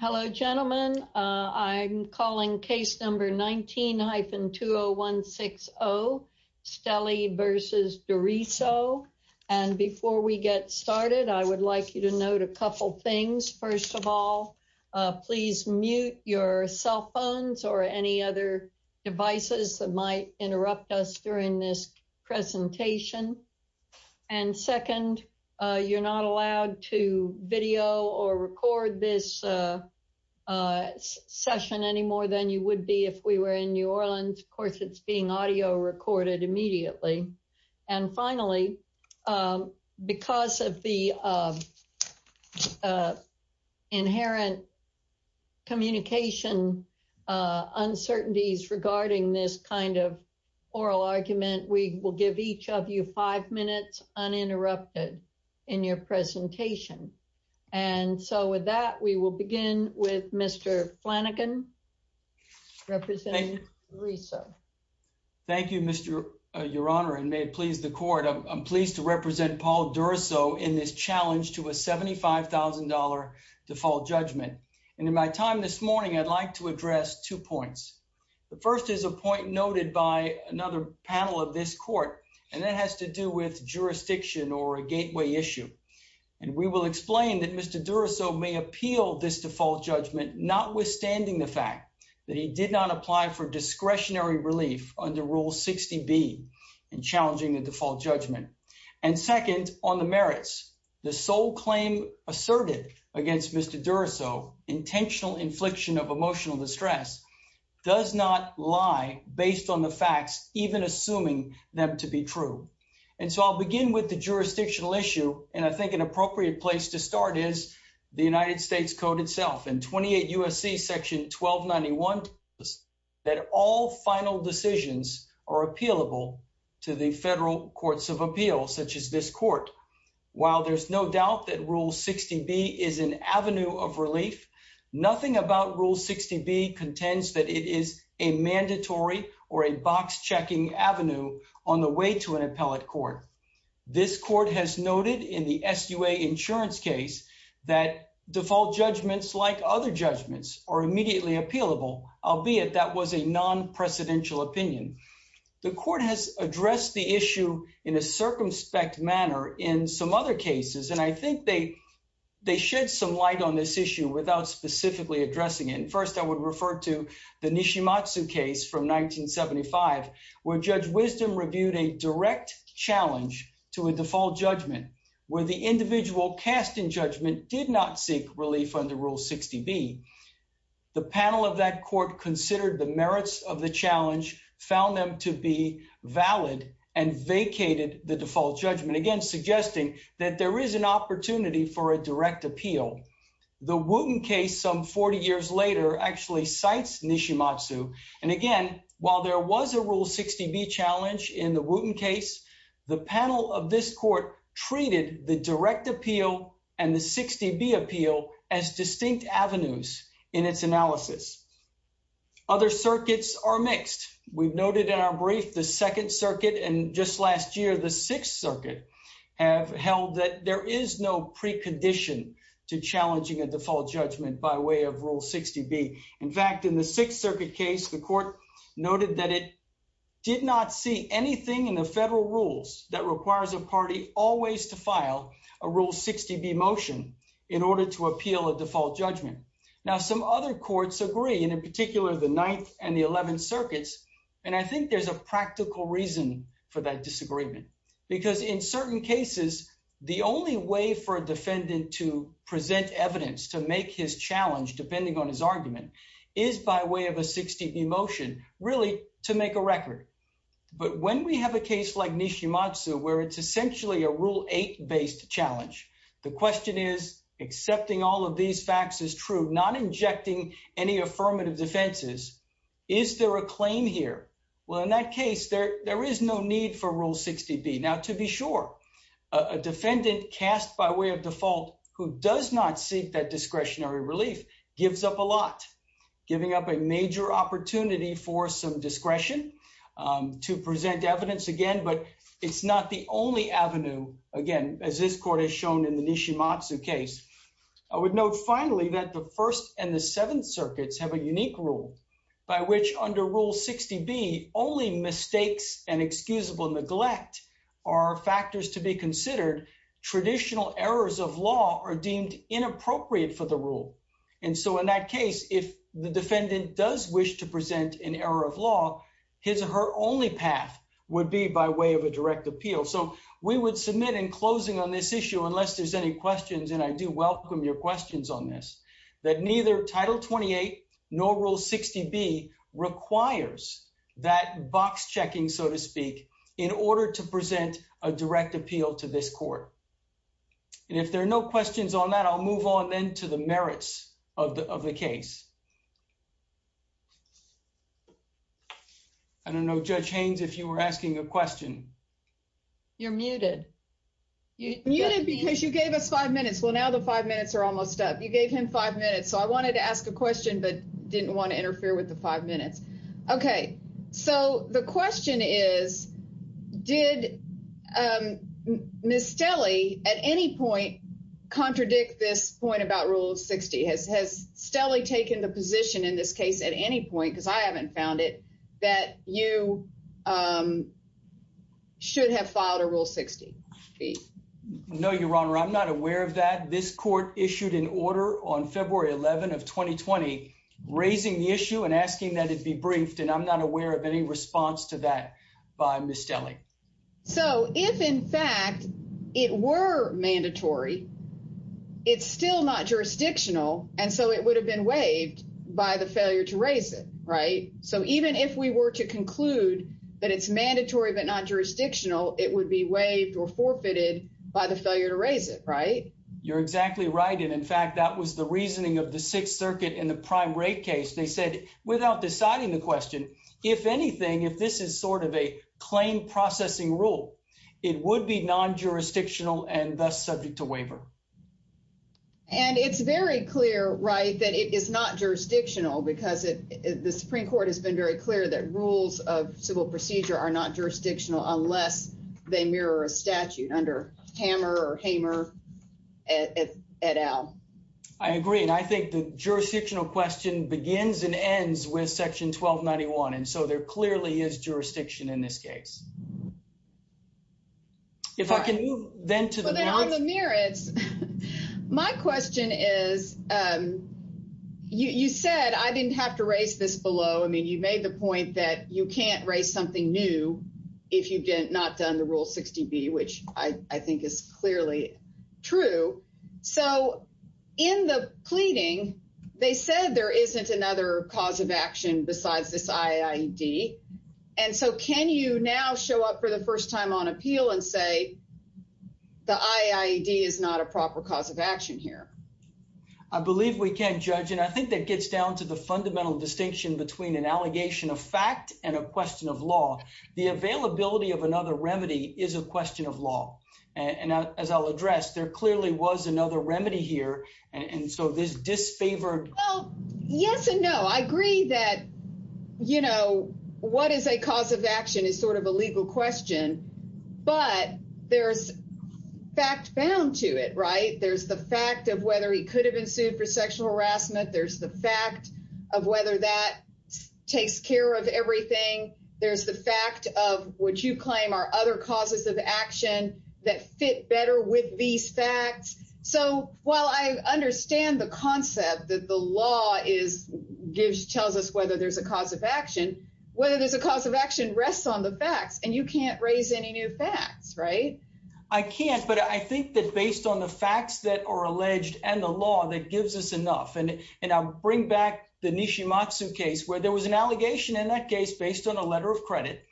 Hello, gentlemen. I'm calling case number 19-20160, Stelly v. Duriso. And before we get started, I would like you to note a couple things. First of all, please mute your cell phones or any other devices that might interrupt us during this presentation. And second, you're not allowed to video or record this session any more than you would be if we were in New Orleans. Of course, it's being audio recorded immediately. And finally, because of the inherent communication uncertainties regarding this kind of oral argument, we will give each of you five minutes uninterrupted in your presentation. And so with that, we will begin with Mr. Flanagan representing Duriso. Thank you, Mr. Your Honor, and may it please the court. I'm pleased to represent Paul Duriso in this challenge to a $75,000 default judgment. And in my time this morning, I'd like to address two points. The first is a point noted by another panel of this court, and that has to do with jurisdiction or a gateway issue. And we will explain that Mr. Duriso may appeal this default judgment, notwithstanding the fact that he did not apply for discretionary relief under Rule 60B in challenging the default judgment. And second, on the merits, the sole claim asserted against Mr. Duriso, intentional infliction of emotional distress, does not lie based on the facts, even assuming them to be true. And so I'll begin with the jurisdictional issue. And I think an appropriate place to start is the United States Code itself. In 28 U.S.C. section 1291, that all final decisions are appealable to the federal courts of appeal, such as this court. While there's no doubt that Rule 60B is an avenue of relief, nothing about Rule 60B contends that it is a mandatory or a box-checking avenue on the way to an appellate court. This court has noted in the SUA insurance case that default judgments, like other judgments, are immediately appealable, albeit that was a non-presidential opinion. The court has addressed the issue in a circumspect manner in some other cases, and I think they shed some light on this issue without specifically addressing it. First, I would refer to the Nishimatsu case from 1975, where Judge Wisdom reviewed a direct challenge to a default judgment, where the individual cast in judgment did not seek relief under Rule 60B. The panel of that court considered the merits of the challenge, found them to be valid, and vacated the default judgment, again suggesting that there is an opportunity for a direct appeal. The Wooten case some 40 years later actually cites Nishimatsu, and again, while there was a Rule 60B challenge in the Wooten case, the panel of this court treated the direct appeal and the 60B appeal as distinct avenues in its analysis. Other circuits are mixed. We've noted in our brief the Second Circuit, and just last year, the Sixth Circuit have held that there is no precondition to challenging a default judgment by way of Rule 60B. In fact, in the Sixth Circuit case, the court noted that it did not see anything in the federal rules that requires a party always to file a Rule 60B motion in order to appeal a and in particular, the Ninth and the Eleventh Circuits, and I think there's a practical reason for that disagreement, because in certain cases, the only way for a defendant to present evidence to make his challenge, depending on his argument, is by way of a 60B motion, really to make a record. But when we have a case like Nishimatsu, where it's essentially a Rule 8-based challenge, the question is, accepting all of these facts is true, not injecting any affirmative defenses. Is there a claim here? Well, in that case, there is no need for Rule 60B. Now, to be sure, a defendant cast by way of default who does not seek that discretionary relief gives up a lot, giving up a major opportunity for some discretion to present evidence again, but it's not the only avenue, again, as this court has shown in the Nishimatsu case. I would note finally that the First and the Seventh Circuits have a unique rule by which under Rule 60B, only mistakes and excusable neglect are factors to be considered. Traditional errors of law are deemed inappropriate for the rule, and so in that case, if the So we would submit in closing on this issue, unless there's any questions, and I do welcome your questions on this, that neither Title 28 nor Rule 60B requires that box checking, so to speak, in order to present a direct appeal to this court. And if there are no questions on that, I'll move on then to the merits of the case. I don't know, Judge Haynes, if you were asking a question. You're muted. You're muted because you gave us five minutes. Well, now the five minutes are almost up. You gave him five minutes, so I wanted to ask a question but didn't want to interfere with the five minutes. Okay, so the question is, did Ms. Stelle at any point contradict this point about Rule 60? Has Stelle taken the position in this case at any point, because I haven't found it, that you should have filed a Rule 60B? No, Your Honor, I'm not aware of that. This court issued an order on February 11 of 2020 raising the issue and asking that it be briefed, and I'm not aware of any response to that by Ms. Stelle. So if, in fact, it were mandatory, it's still not jurisdictional, and so it would have been waived by the failure to raise it, right? So even if we were to conclude that it's mandatory but not jurisdictional, it would be waived or forfeited by the failure to raise it, right? You're exactly right, and, in fact, that was the reasoning of the Sixth Circuit in the prime rate case. They said, without deciding the question, if anything, if this is sort of a claim processing rule, it would be non-jurisdictional and thus subject to waiver. And it's very clear, right, that it is not jurisdictional because the Supreme Court has been very clear that rules of civil procedure are not jurisdictional unless they mirror a statute under Hammer or Hamer et al. I agree, and I think the jurisdictional question begins and ends with Section 1291, and so there clearly is jurisdiction in this case. If I can move, then, to the merits. Well, then, on the merits, my question is, you said I didn't have to raise this below. I mean, you made the point that you can't raise something new if you've not done the Rule 60B, which I think is clearly true. So in the pleading, they said there isn't another cause of action besides this IAED, and so can you now show up the first time on appeal and say the IAED is not a proper cause of action here? I believe we can, Judge, and I think that gets down to the fundamental distinction between an allegation of fact and a question of law. The availability of another remedy is a question of law, and as I'll address, there clearly was another remedy here, and so this disfavored... Well, yes and no. I agree that what is a cause of action is sort of a legal question, but there's fact bound to it, right? There's the fact of whether he could have been sued for sexual harassment. There's the fact of whether that takes care of everything. There's the fact of what you claim are other causes of action that fit better with these facts. So while I understand the concept that the law tells us whether there's a cause of action, whether there's a cause of action rests on the facts, and you can't raise any new facts, right? I can't, but I think that based on the facts that are alleged and the law that gives us enough, and I'll bring back the Nishimatsu case where there was an allegation in that case based on a letter of credit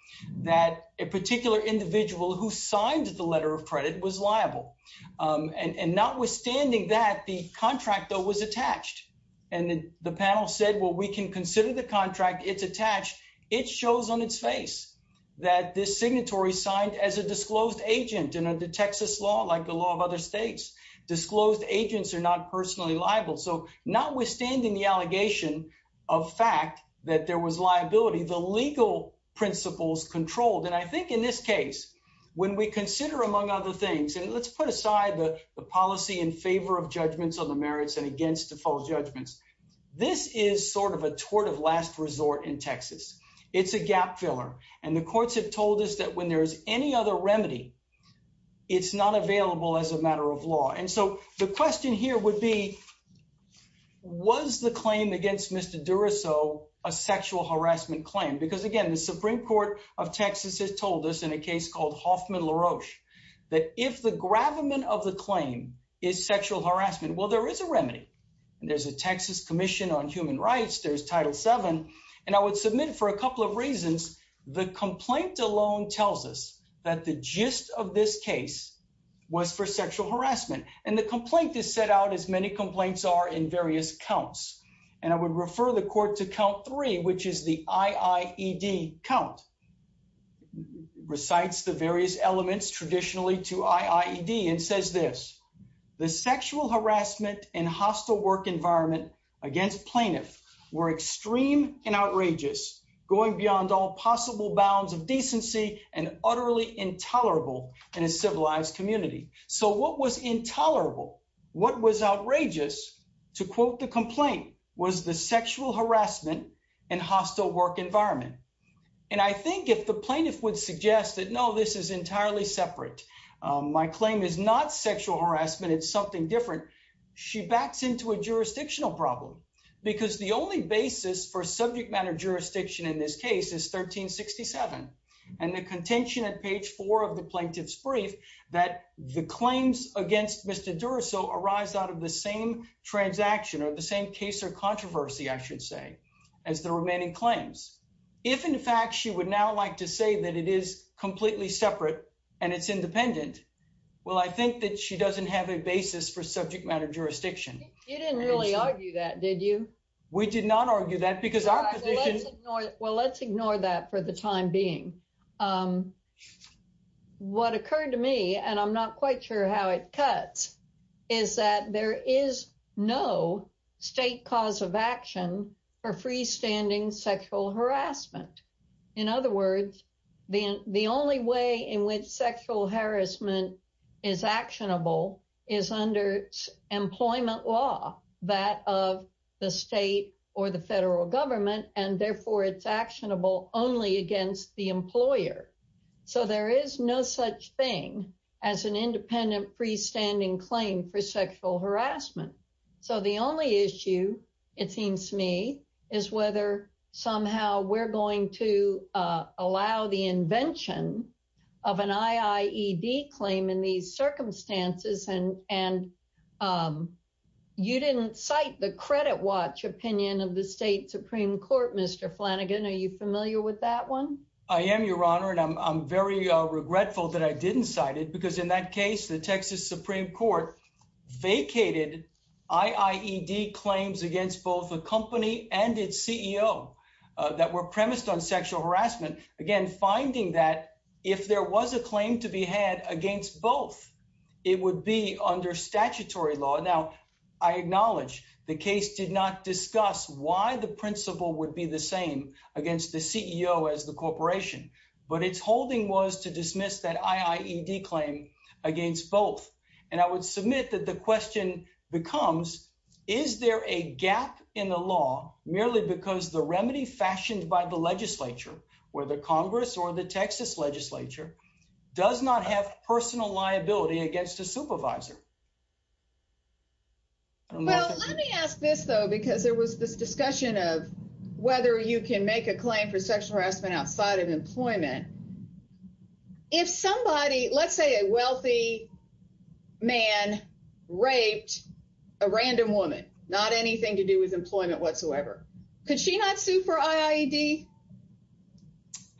that a particular individual who signed the letter of credit was liable, and notwithstanding that, the contract though was attached, and the panel said, well, we can consider the contract. It's attached. It shows on its face that this signatory signed as a disclosed agent, and under Texas law, like the law of other states, disclosed agents are not personally liable. So notwithstanding the allegation of fact that there was liability, the legal principles controlled, and I think in this case, when we consider among other things, and let's put aside the policy in favor of judgments on the merits and against default judgments, this is sort of a tort of last resort in Texas. It's a gap filler, and the courts have told us that when there is any other remedy, it's not available as a matter of law, and so the question here would be, was the claim against Mr. Durasso a sexual harassment claim? Because again, the Supreme Court of Texas has told us in a case called Hoffman-LaRoche that if the gravamen of the claim is sexual harassment, well, there is a remedy, and there's a Texas Commission on Human Rights, there's Title VII, and I would submit for a couple of reasons. The complaint alone tells us that the gist of this case was for sexual harassment, and the complaint is set out, as many complaints are, in various counts, and I would refer the court to count three, which is the IIED count, recites the various elements traditionally to IIED and says this, the sexual harassment and hostile work environment against plaintiff were extreme and outrageous, going beyond all possible bounds of decency and utterly intolerable in a civilized community. So what was intolerable, what was outrageous, to quote the complaint, was the sexual harassment and hostile work environment, and I think if the plaintiff would suggest that, no, this is entirely separate, my claim is not sexual harassment, it's something different, she backs into a jurisdictional problem, because the only basis for subject matter jurisdiction in this case is 1367, and the contention at page four of the plaintiff's brief that the claims against Mr. Arise out of the same transaction or the same case or controversy, I should say, as the remaining claims. If, in fact, she would now like to say that it is completely separate and it's independent, well, I think that she doesn't have a basis for subject matter jurisdiction. You didn't really argue that, did you? We did not argue that, because our position- Well, let's ignore that for the time being. What occurred to me, and I'm not quite sure how it cuts, is that there is no state cause of action for freestanding sexual harassment. In other words, the only way in which sexual harassment is actionable is under employment law, that of the state or the federal government, and therefore it's actionable only against the claim for sexual harassment. The only issue, it seems to me, is whether somehow we're going to allow the invention of an IIED claim in these circumstances, and you didn't cite the credit watch opinion of the state Supreme Court, Mr. Flanagan. Are you familiar with that one? I am, Your Honor, and I'm very regretful that I didn't cite it, because in that case, the Texas Supreme Court vacated IIED claims against both a company and its CEO that were premised on sexual harassment, again, finding that if there was a claim to be had against both, it would be under statutory law. Now, I acknowledge the case did not discuss why the principle would be the same against the CEO as the corporation, but its holding was to dismiss that IIED claim against both, and I would submit that the question becomes, is there a gap in the law merely because the remedy fashioned by the legislature, whether Congress or the Texas legislature, does not have personal liability against a supervisor? Well, let me ask this, though, because there was this discussion of whether you can make a claim for sexual harassment outside of employment. If somebody, let's say a wealthy man raped a random woman, not anything to do with employment whatsoever, could she not sue for IIED?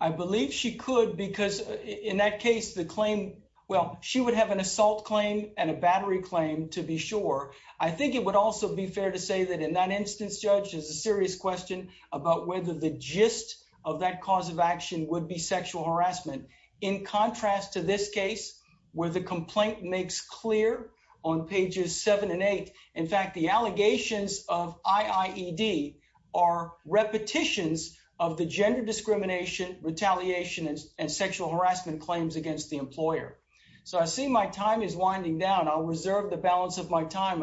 I believe she could, because in that case, the claim, well, she would have an assault claim and a battery claim, to be sure. I think it would also be fair to say that in that instance, Judge, it's a serious question about whether the gist of that cause of action would be sexual harassment. In contrast to this case, where the complaint makes clear on pages 7 and 8, in fact, the allegations of IIED are repetitions of the gender discrimination, retaliation, and sexual harassment claims against the employer. So I see my time is winding down. I'll reserve the balance of my time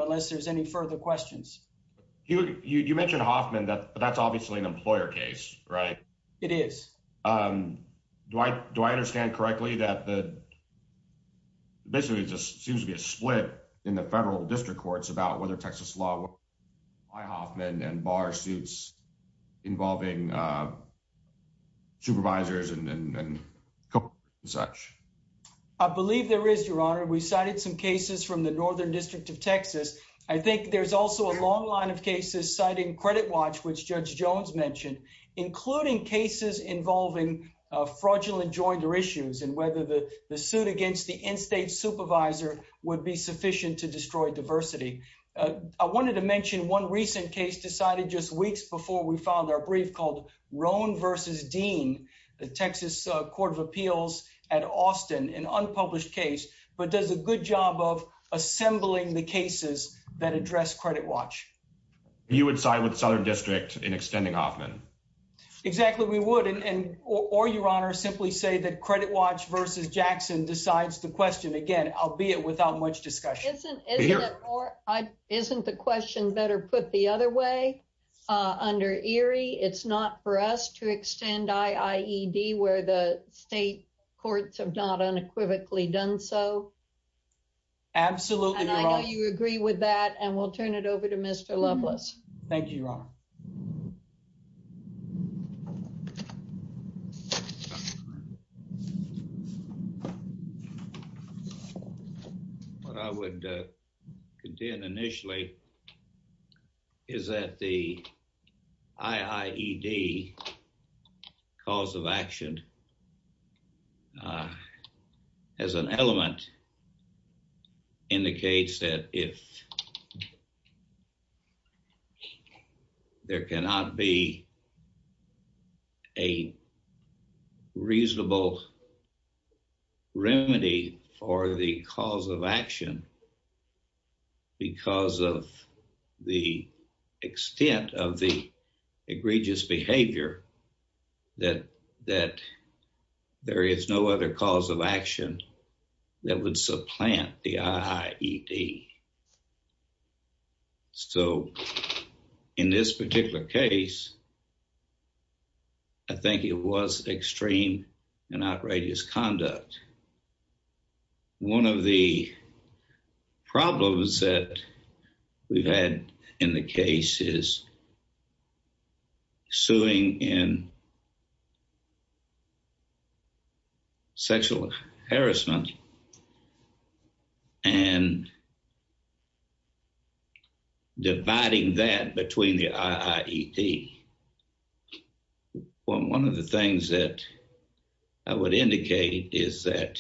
that that's obviously an employer case, right? It is. Do I understand correctly that the basically just seems to be a split in the federal district courts about whether Texas law by Hoffman and bar suits involving supervisors and such? I believe there is, Your Honor. We cited some cases from the Northern District of Texas. I think there's also a long line of cases citing Credit Watch, which Judge Jones mentioned, including cases involving fraudulent joinder issues and whether the suit against the in-state supervisor would be sufficient to destroy diversity. I wanted to mention one recent case decided just weeks before we filed our brief called Roan v. Dean, the Texas Court of Appeals at Austin, an unpublished case, but does a good job of Southern District in extending Hoffman? Exactly. We would, or Your Honor, simply say that Credit Watch v. Jackson decides the question. Again, albeit without much discussion. Isn't the question better put the other way? Under Erie, it's not for us to extend IIED where the state courts have not unequivocally done so? Absolutely, Your Honor. And I know you agree with that, and we'll turn it over to Mr. Loveless. Thank you, Your Honor. What I would contend initially is that the IIED cause of action and as an element indicates that if there cannot be a reasonable remedy for the cause of action because of the extent of the egregious behavior that there is no other cause of action that would supplant the IIED. So in this particular case, I think it was extreme and outrageous conduct. One of the problems that we've had in the case is in sexual harassment and dividing that between the IIED. One of the things that I would indicate is that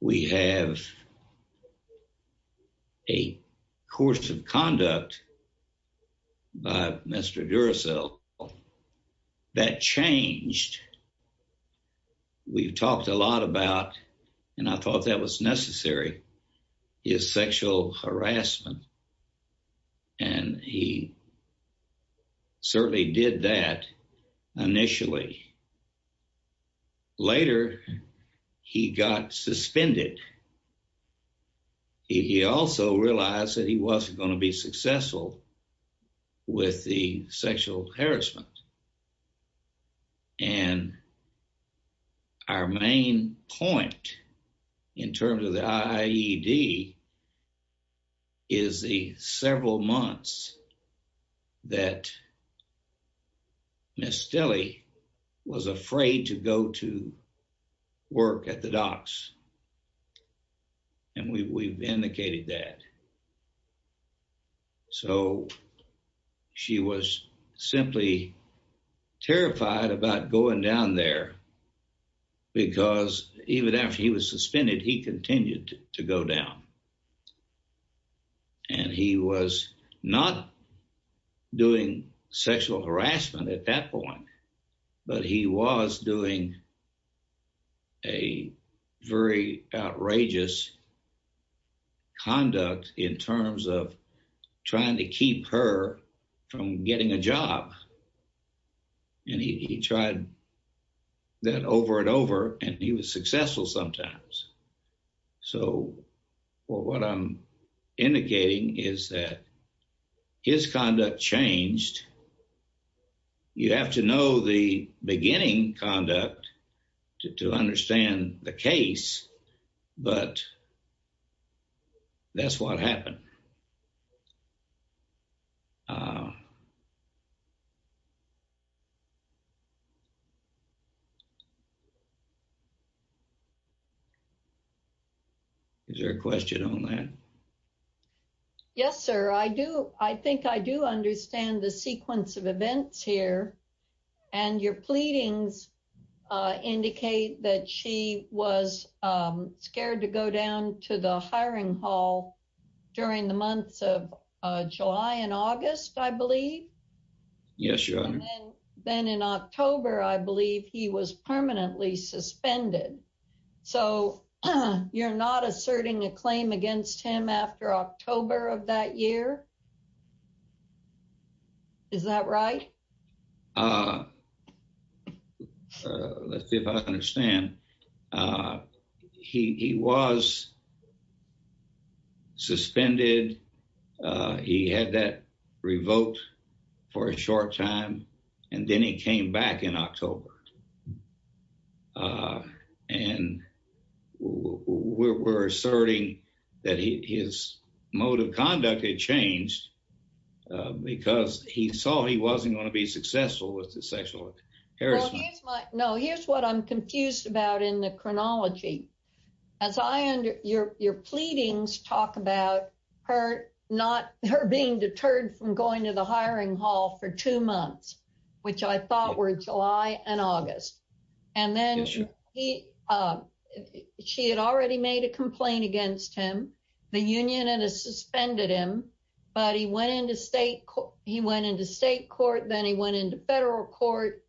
when we have a course of conduct by Mr. Duracell, that changed. We've talked a lot about, and I thought that was necessary, his sexual harassment, and he certainly did that initially. Later, he got suspended. He also realized that he wasn't going to be successful with the sexual harassment. And our main point in terms of the IIED is the several months that Ms. Stille was afraid to go to work at the docks. And we've indicated that. So she was simply terrified about going down there because even after he was suspended, he continued to go down. And he was not doing sexual harassment at that point, but he was doing a very outrageous conduct in terms of trying to keep her from getting a job. And he tried that over and over, and he was successful sometimes. So what I'm indicating is that his conduct changed. You have to know the beginning conduct to understand the case, but that's what happened. Is there a question on that? Yes, sir. I do. I think I do understand the sequence of events here and your pleadings indicate that she was scared to go down to the hiring hall during the months of July and August, I believe. Yes, your honor. Then in October, I believe he was permanently suspended. So you're not asserting a claim against him after October of that year? Is that right? Let's see if I understand. He was suspended. He had that revoked for a short time, and then he came back in October. And we're asserting that his mode of conduct had changed because he saw he wasn't going to be successful with the sexual harassment. No, here's what I'm confused about in the chronology. Your pleadings talk about her being deterred from going to the hiring hall for two months, which I thought were July and August. And then she had already made a complaint against him. The union had suspended him, but he went into state court, then he went into federal court,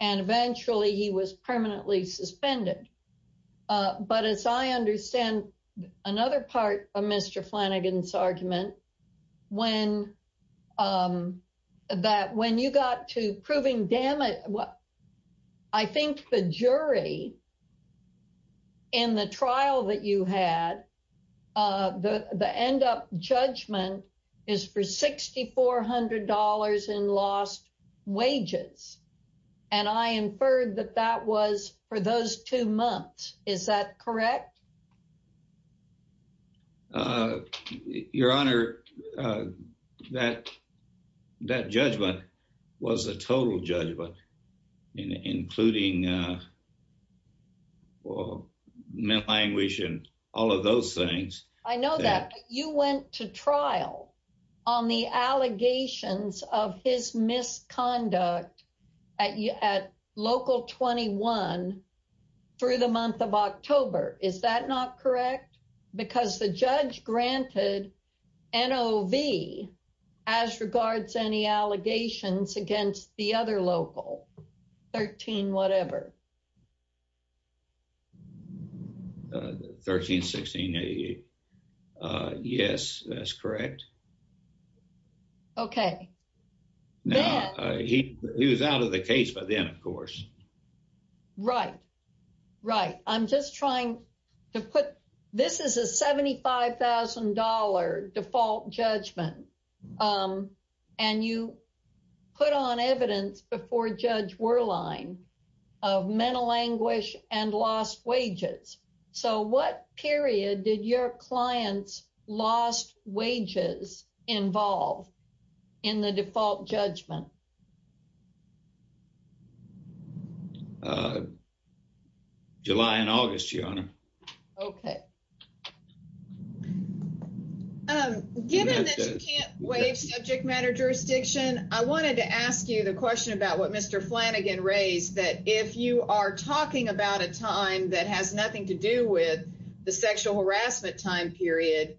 and eventually he was permanently suspended. But as I understand another part of Mr. Flanagan's argument, when you got to proving damage, I think the jury in the trial that you had, the end up judgment is for $6,400 in lost wages. And I inferred that that was for those two months. Is that correct? Your Honor, that judgment was a total judgment, including mental anguish and all of those things. I know that, but you went to trial on the allegations of his misconduct at local 21 through the month of October. Is that not correct? Because the judge granted NOV as regards any allegations against the other local, 13 whatever. 13, 16, 88. Yes, that's correct. Okay. Now, he was out of the case by then, of course. Right. Right. I'm just trying to put, this is a $75,000 default judgment. Um, and you put on evidence before Judge Werlein of mental anguish and lost wages. So what period did your client's lost wages involve in the default judgment? Uh, July and August, Your Honor. Okay. Um, given that you can't waive subject matter jurisdiction, I wanted to ask you the question about what Mr. Flanagan raised, that if you are talking about a time that has nothing to do with the sexual harassment time period,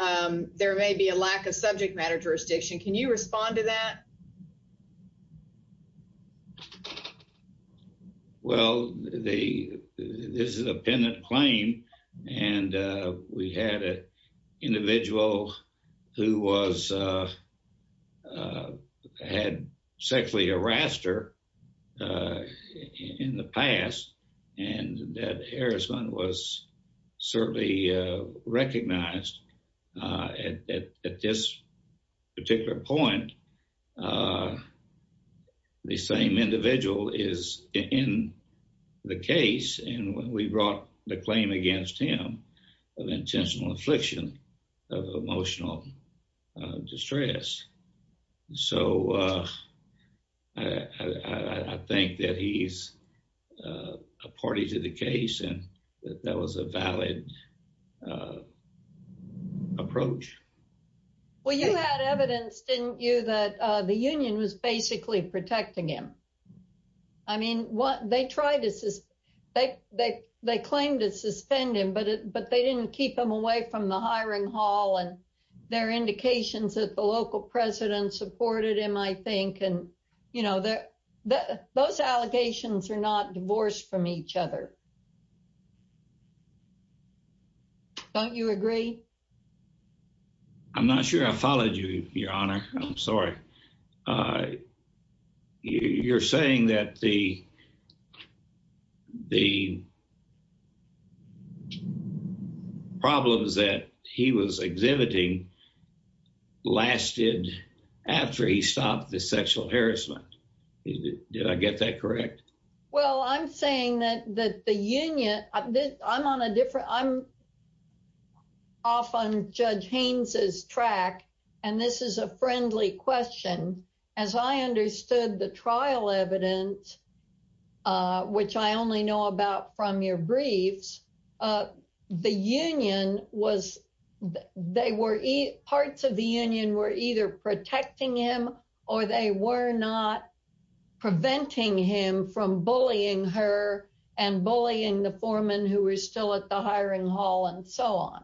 there may be a lack of subject matter jurisdiction. Can you respond to that? Well, the, this is a pendant claim and we had an individual who was, uh, had sexually harassed her, uh, in the past and that harassment was certainly, uh, recognized, uh, at this particular point, uh, the same individual is in the case and we brought the claim against him of intentional affliction of emotional distress. So, uh, I think that he's a party to the case and that was a valid, uh, approach. Well, you had evidence, didn't you, that, uh, the union was basically protecting him. I mean, what they tried to say, they, they, they claimed to suspend him, but it, but they didn't keep them away from the hiring hall and their indications that the local president supported him, I think. And, you know, the, the, those allegations are not divorced from each other. Don't you agree? I'm not sure I followed you, your honor. I'm sorry. Uh, you're saying that the, the problems that he was exhibiting lasted after he stopped the sexual harassment. Did I get that correct? Well, I'm saying that, that the union, I'm on a different, I'm off on Judge Haynes's track, and this is a friendly question. As I understood the trial evidence, uh, which I only know about from your briefs, uh, the union was, they were, parts of the union were either protecting him or they were not preventing him from bullying her and bullying the foreman who was still at the hiring hall and so on.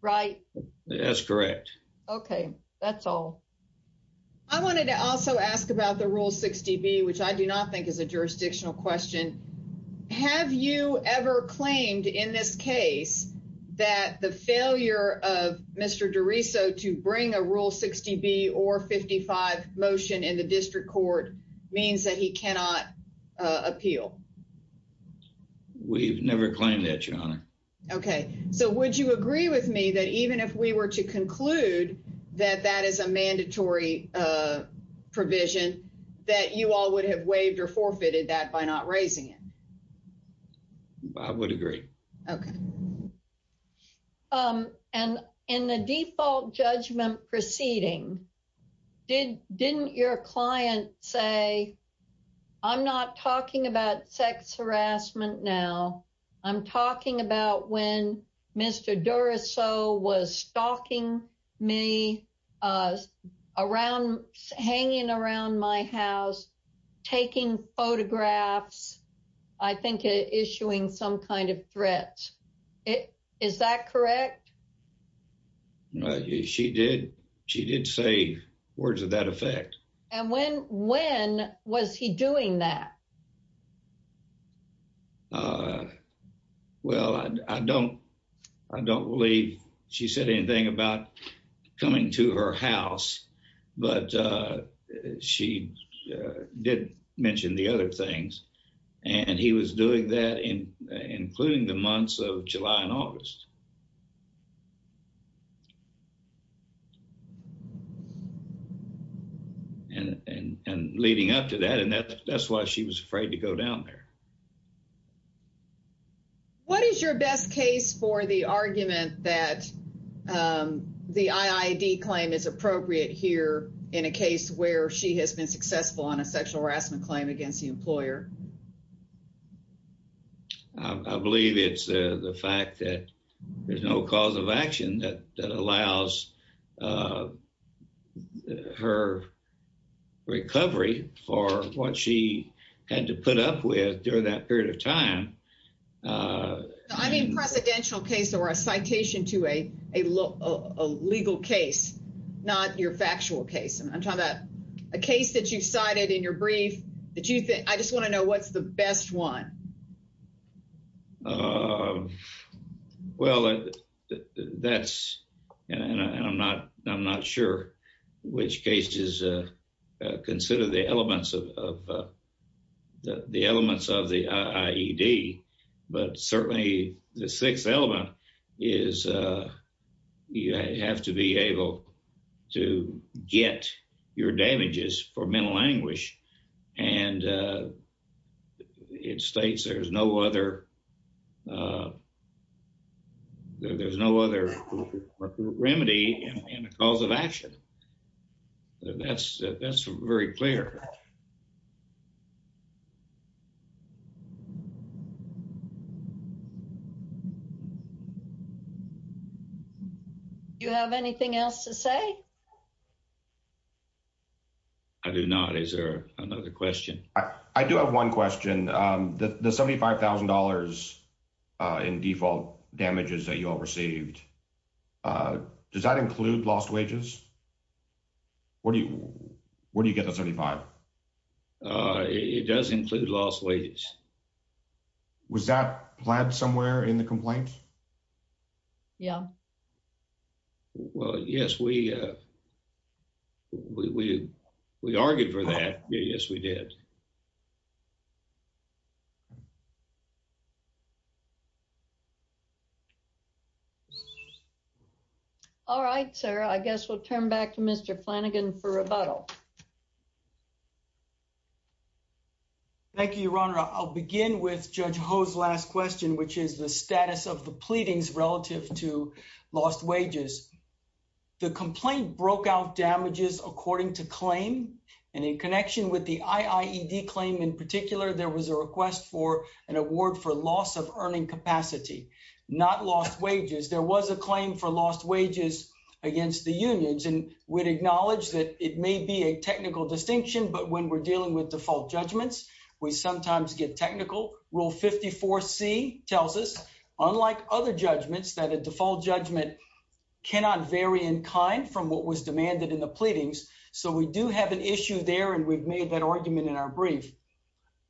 Right? That's correct. Okay. That's all. I wanted to also ask about the Rule 60B, which I do not think is a jurisdictional question. Have you ever claimed in this case that the failure of Mr. DeRiso to bring a Rule 60B or 55 motion in the district court means that he cannot appeal? We've never claimed that, your honor. Okay. So would you agree with me that even if we were to conclude that that is a mandatory, uh, provision that you all would have waived or forfeited that by not raising it? I would agree. Okay. Um, and in the default judgment proceeding, did, didn't your client say, I'm not talking about sex harassment now. I'm talking about when Mr. DeRiso was stalking me, uh, around, hanging around my house, taking photographs, I think issuing some kind of threats. Is that correct? She did. She did say words of that effect. And when, when was he doing that? Uh, well, I don't, I don't believe she said anything about coming to her house, but, uh, she, uh, did mention the other things and he was doing that in, including the months of July and August. And, and, and leading up to that, and that's, that's why she was afraid to go down there. What is your best case for the argument that, um, the IID claim is appropriate here in a case where she has been successful on a sexual harassment claim against the employer? I believe it's the fact that, uh, the, the, the, the, the, the, the, the, the, the, there's no cause of action that, that allows, uh, her recovery for what she had to put up with during that period of time. Uh, I mean, Precedential case or a citation to a, a law, a legal case, not your factual case. I'm talking about a case that you've cited in your brief that you think, I just want to know what's the best one. Um, well, that's, and I'm not, I'm not sure which case is, uh, uh, consider the elements of, of, uh, the elements of the IID, but certainly the sixth element is, uh, you have to be able to get your damages for mental anguish. And, uh, it states there's no other, uh, there's no other remedy in the cause of action. That's, that's very clear. Do you have anything else to say? I do not. Is there another question? I do have one question. Um, the, the $75,000, uh, in default damages that you all received, uh, does that include lost wages? Where do you, where do you get the $75,000? Uh, it does include lost wages. Was that planned somewhere in the complaint? Yeah. Well, yes, we, uh, we, we, we argued for that. Yes, we did. All right, sir. I guess we'll turn back to Mr. Flanagan for rebuttal. Thank you, Your Honor. I'll begin with Judge Ho's last question, which is the status of the pleadings relative to lost wages. The complaint broke out damages according to claim. And in connection with the IIED claim in particular, there was a request for an award for loss of claim for lost wages against the unions. And we'd acknowledge that it may be a technical distinction, but when we're dealing with default judgments, we sometimes get technical rule 54 C tells us unlike other judgments that a default judgment cannot vary in kind from what was demanded in the pleadings. So we do have an issue there. And we've made that argument in our brief,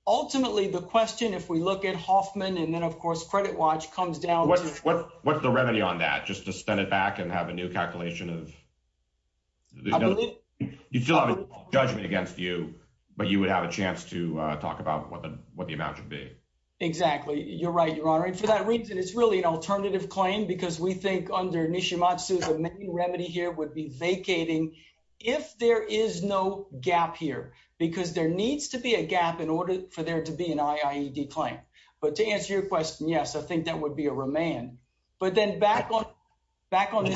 ultimately the question, if we look at Hoffman and then of course, credit watch comes down. What's the remedy on that? Just to send it back and have a new calculation of judgment against you, but you would have a chance to talk about what the, what the amount should be. Exactly. You're right, Your Honor. And for that reason, it's really an alternative claim because we think under Nishimatsu, the main remedy here would be vacating if there is no gap here, because there needs to be a gap in order for there to be an IIED claim. But to answer your yes, I think that would be a remand, but then back on, back on to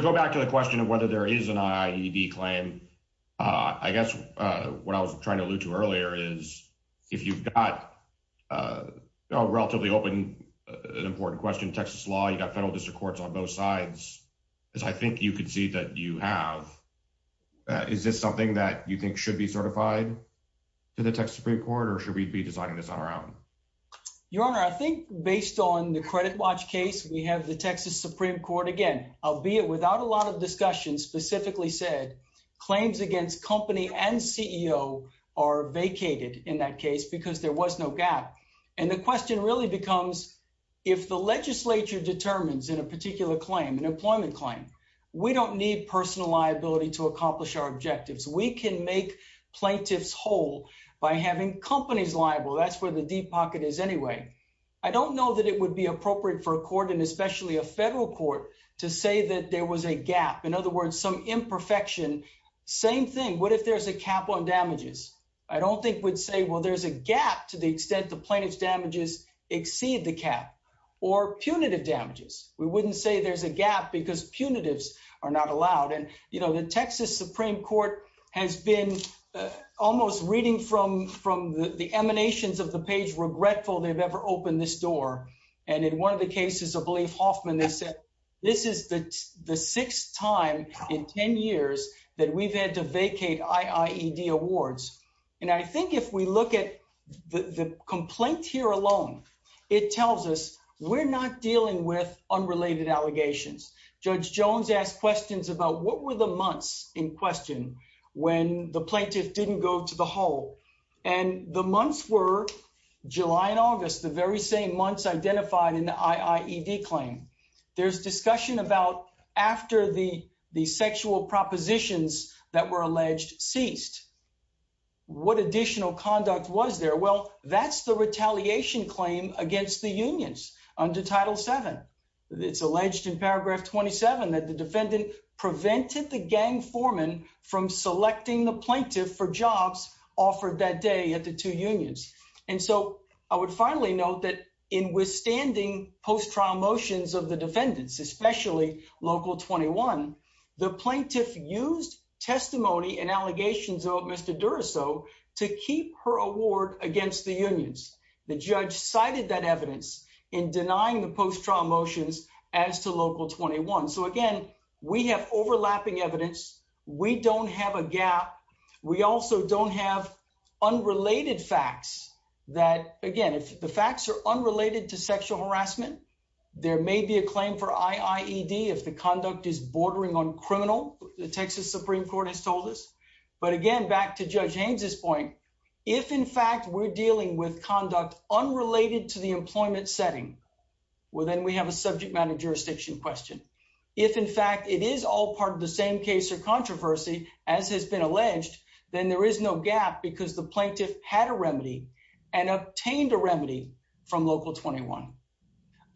go back to the question of whether there is an IIED claim. I guess what I was trying to allude to earlier is if you've got relatively open, an important question, Texas law, you got federal district courts on both sides, as I think you could see that you have, is this something that you think should be certified to the Texas Supreme court? Or should we be designing this on our own? Your Honor, I think based on the credit watch case, we have the Texas Supreme court, again, albeit without a lot of discussion specifically said claims against company and CEO are vacated in that case because there was no gap. And the question really becomes if the legislature determines in a particular claim, an employment claim, we don't need personal liability to accomplish our objectives. We can make plaintiffs whole by having companies liable. That's where the deep pocket is anyway. I don't know that it would be appropriate for a court and especially a federal court to say that there was a gap. In other words, some imperfection, same thing. What if there's a cap on damages? I don't think we'd say, well, there's a gap to the extent the plaintiff's damages exceed the cap or punitive damages. We wouldn't say there's a gap because punitives are not allowed. And, you know, the Texas Supreme court has been almost reading from, from the emanations of the page, regretful they've ever opened this door. And in one of the cases, I believe Hoffman, they said, this is the sixth time in 10 years that we've had to vacate IIED awards. And I think if we look at the complaint here alone, it tells us we're not dealing with unrelated allegations. Judge Jones asked questions about what were the months in question when the plaintiff didn't go to the hole and the months were July and August, the very same months identified in the IIED claim. There's discussion about after the, the sexual propositions that were alleged ceased, what additional conduct was there? Well, that's the retaliation claim against the unions under title seven. It's alleged in paragraph 27 that the defendant prevented the gang foreman from selecting the plaintiff for jobs offered that day at the two unions. And so I would finally note that in withstanding post-trial motions of the defendants, especially local 21, the plaintiff used testimony and allegations of Mr. Duraso to keep her award against the unions. The judge cited that evidence in denying the post-trial motions as to local 21. So again, we have overlapping evidence. We don't have a gap. We also don't have unrelated facts that, again, if the facts are unrelated to sexual harassment, there may be a claim for IIED if the conduct is bordering on criminal, the Texas Supreme Court has told us. But again, back to Judge Haynes' point, if in fact we're dealing with conduct unrelated to the employment setting, well, then we have a subject matter jurisdiction question. If in fact it is all part of the same case or controversy, as has been alleged, then there is no gap because the plaintiff had a remedy and obtained a remedy from local 21.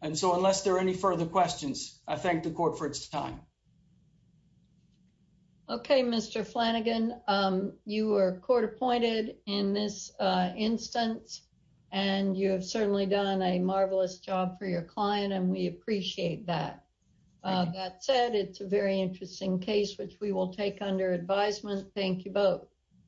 And so unless there are any further questions, I thank the court for its time. Okay, Mr. Flanagan, you are court-appointed in this instance and you have certainly done a marvelous job for your client and we appreciate that. That said, it's a very interesting case, which we will take under advisement. Thank you both.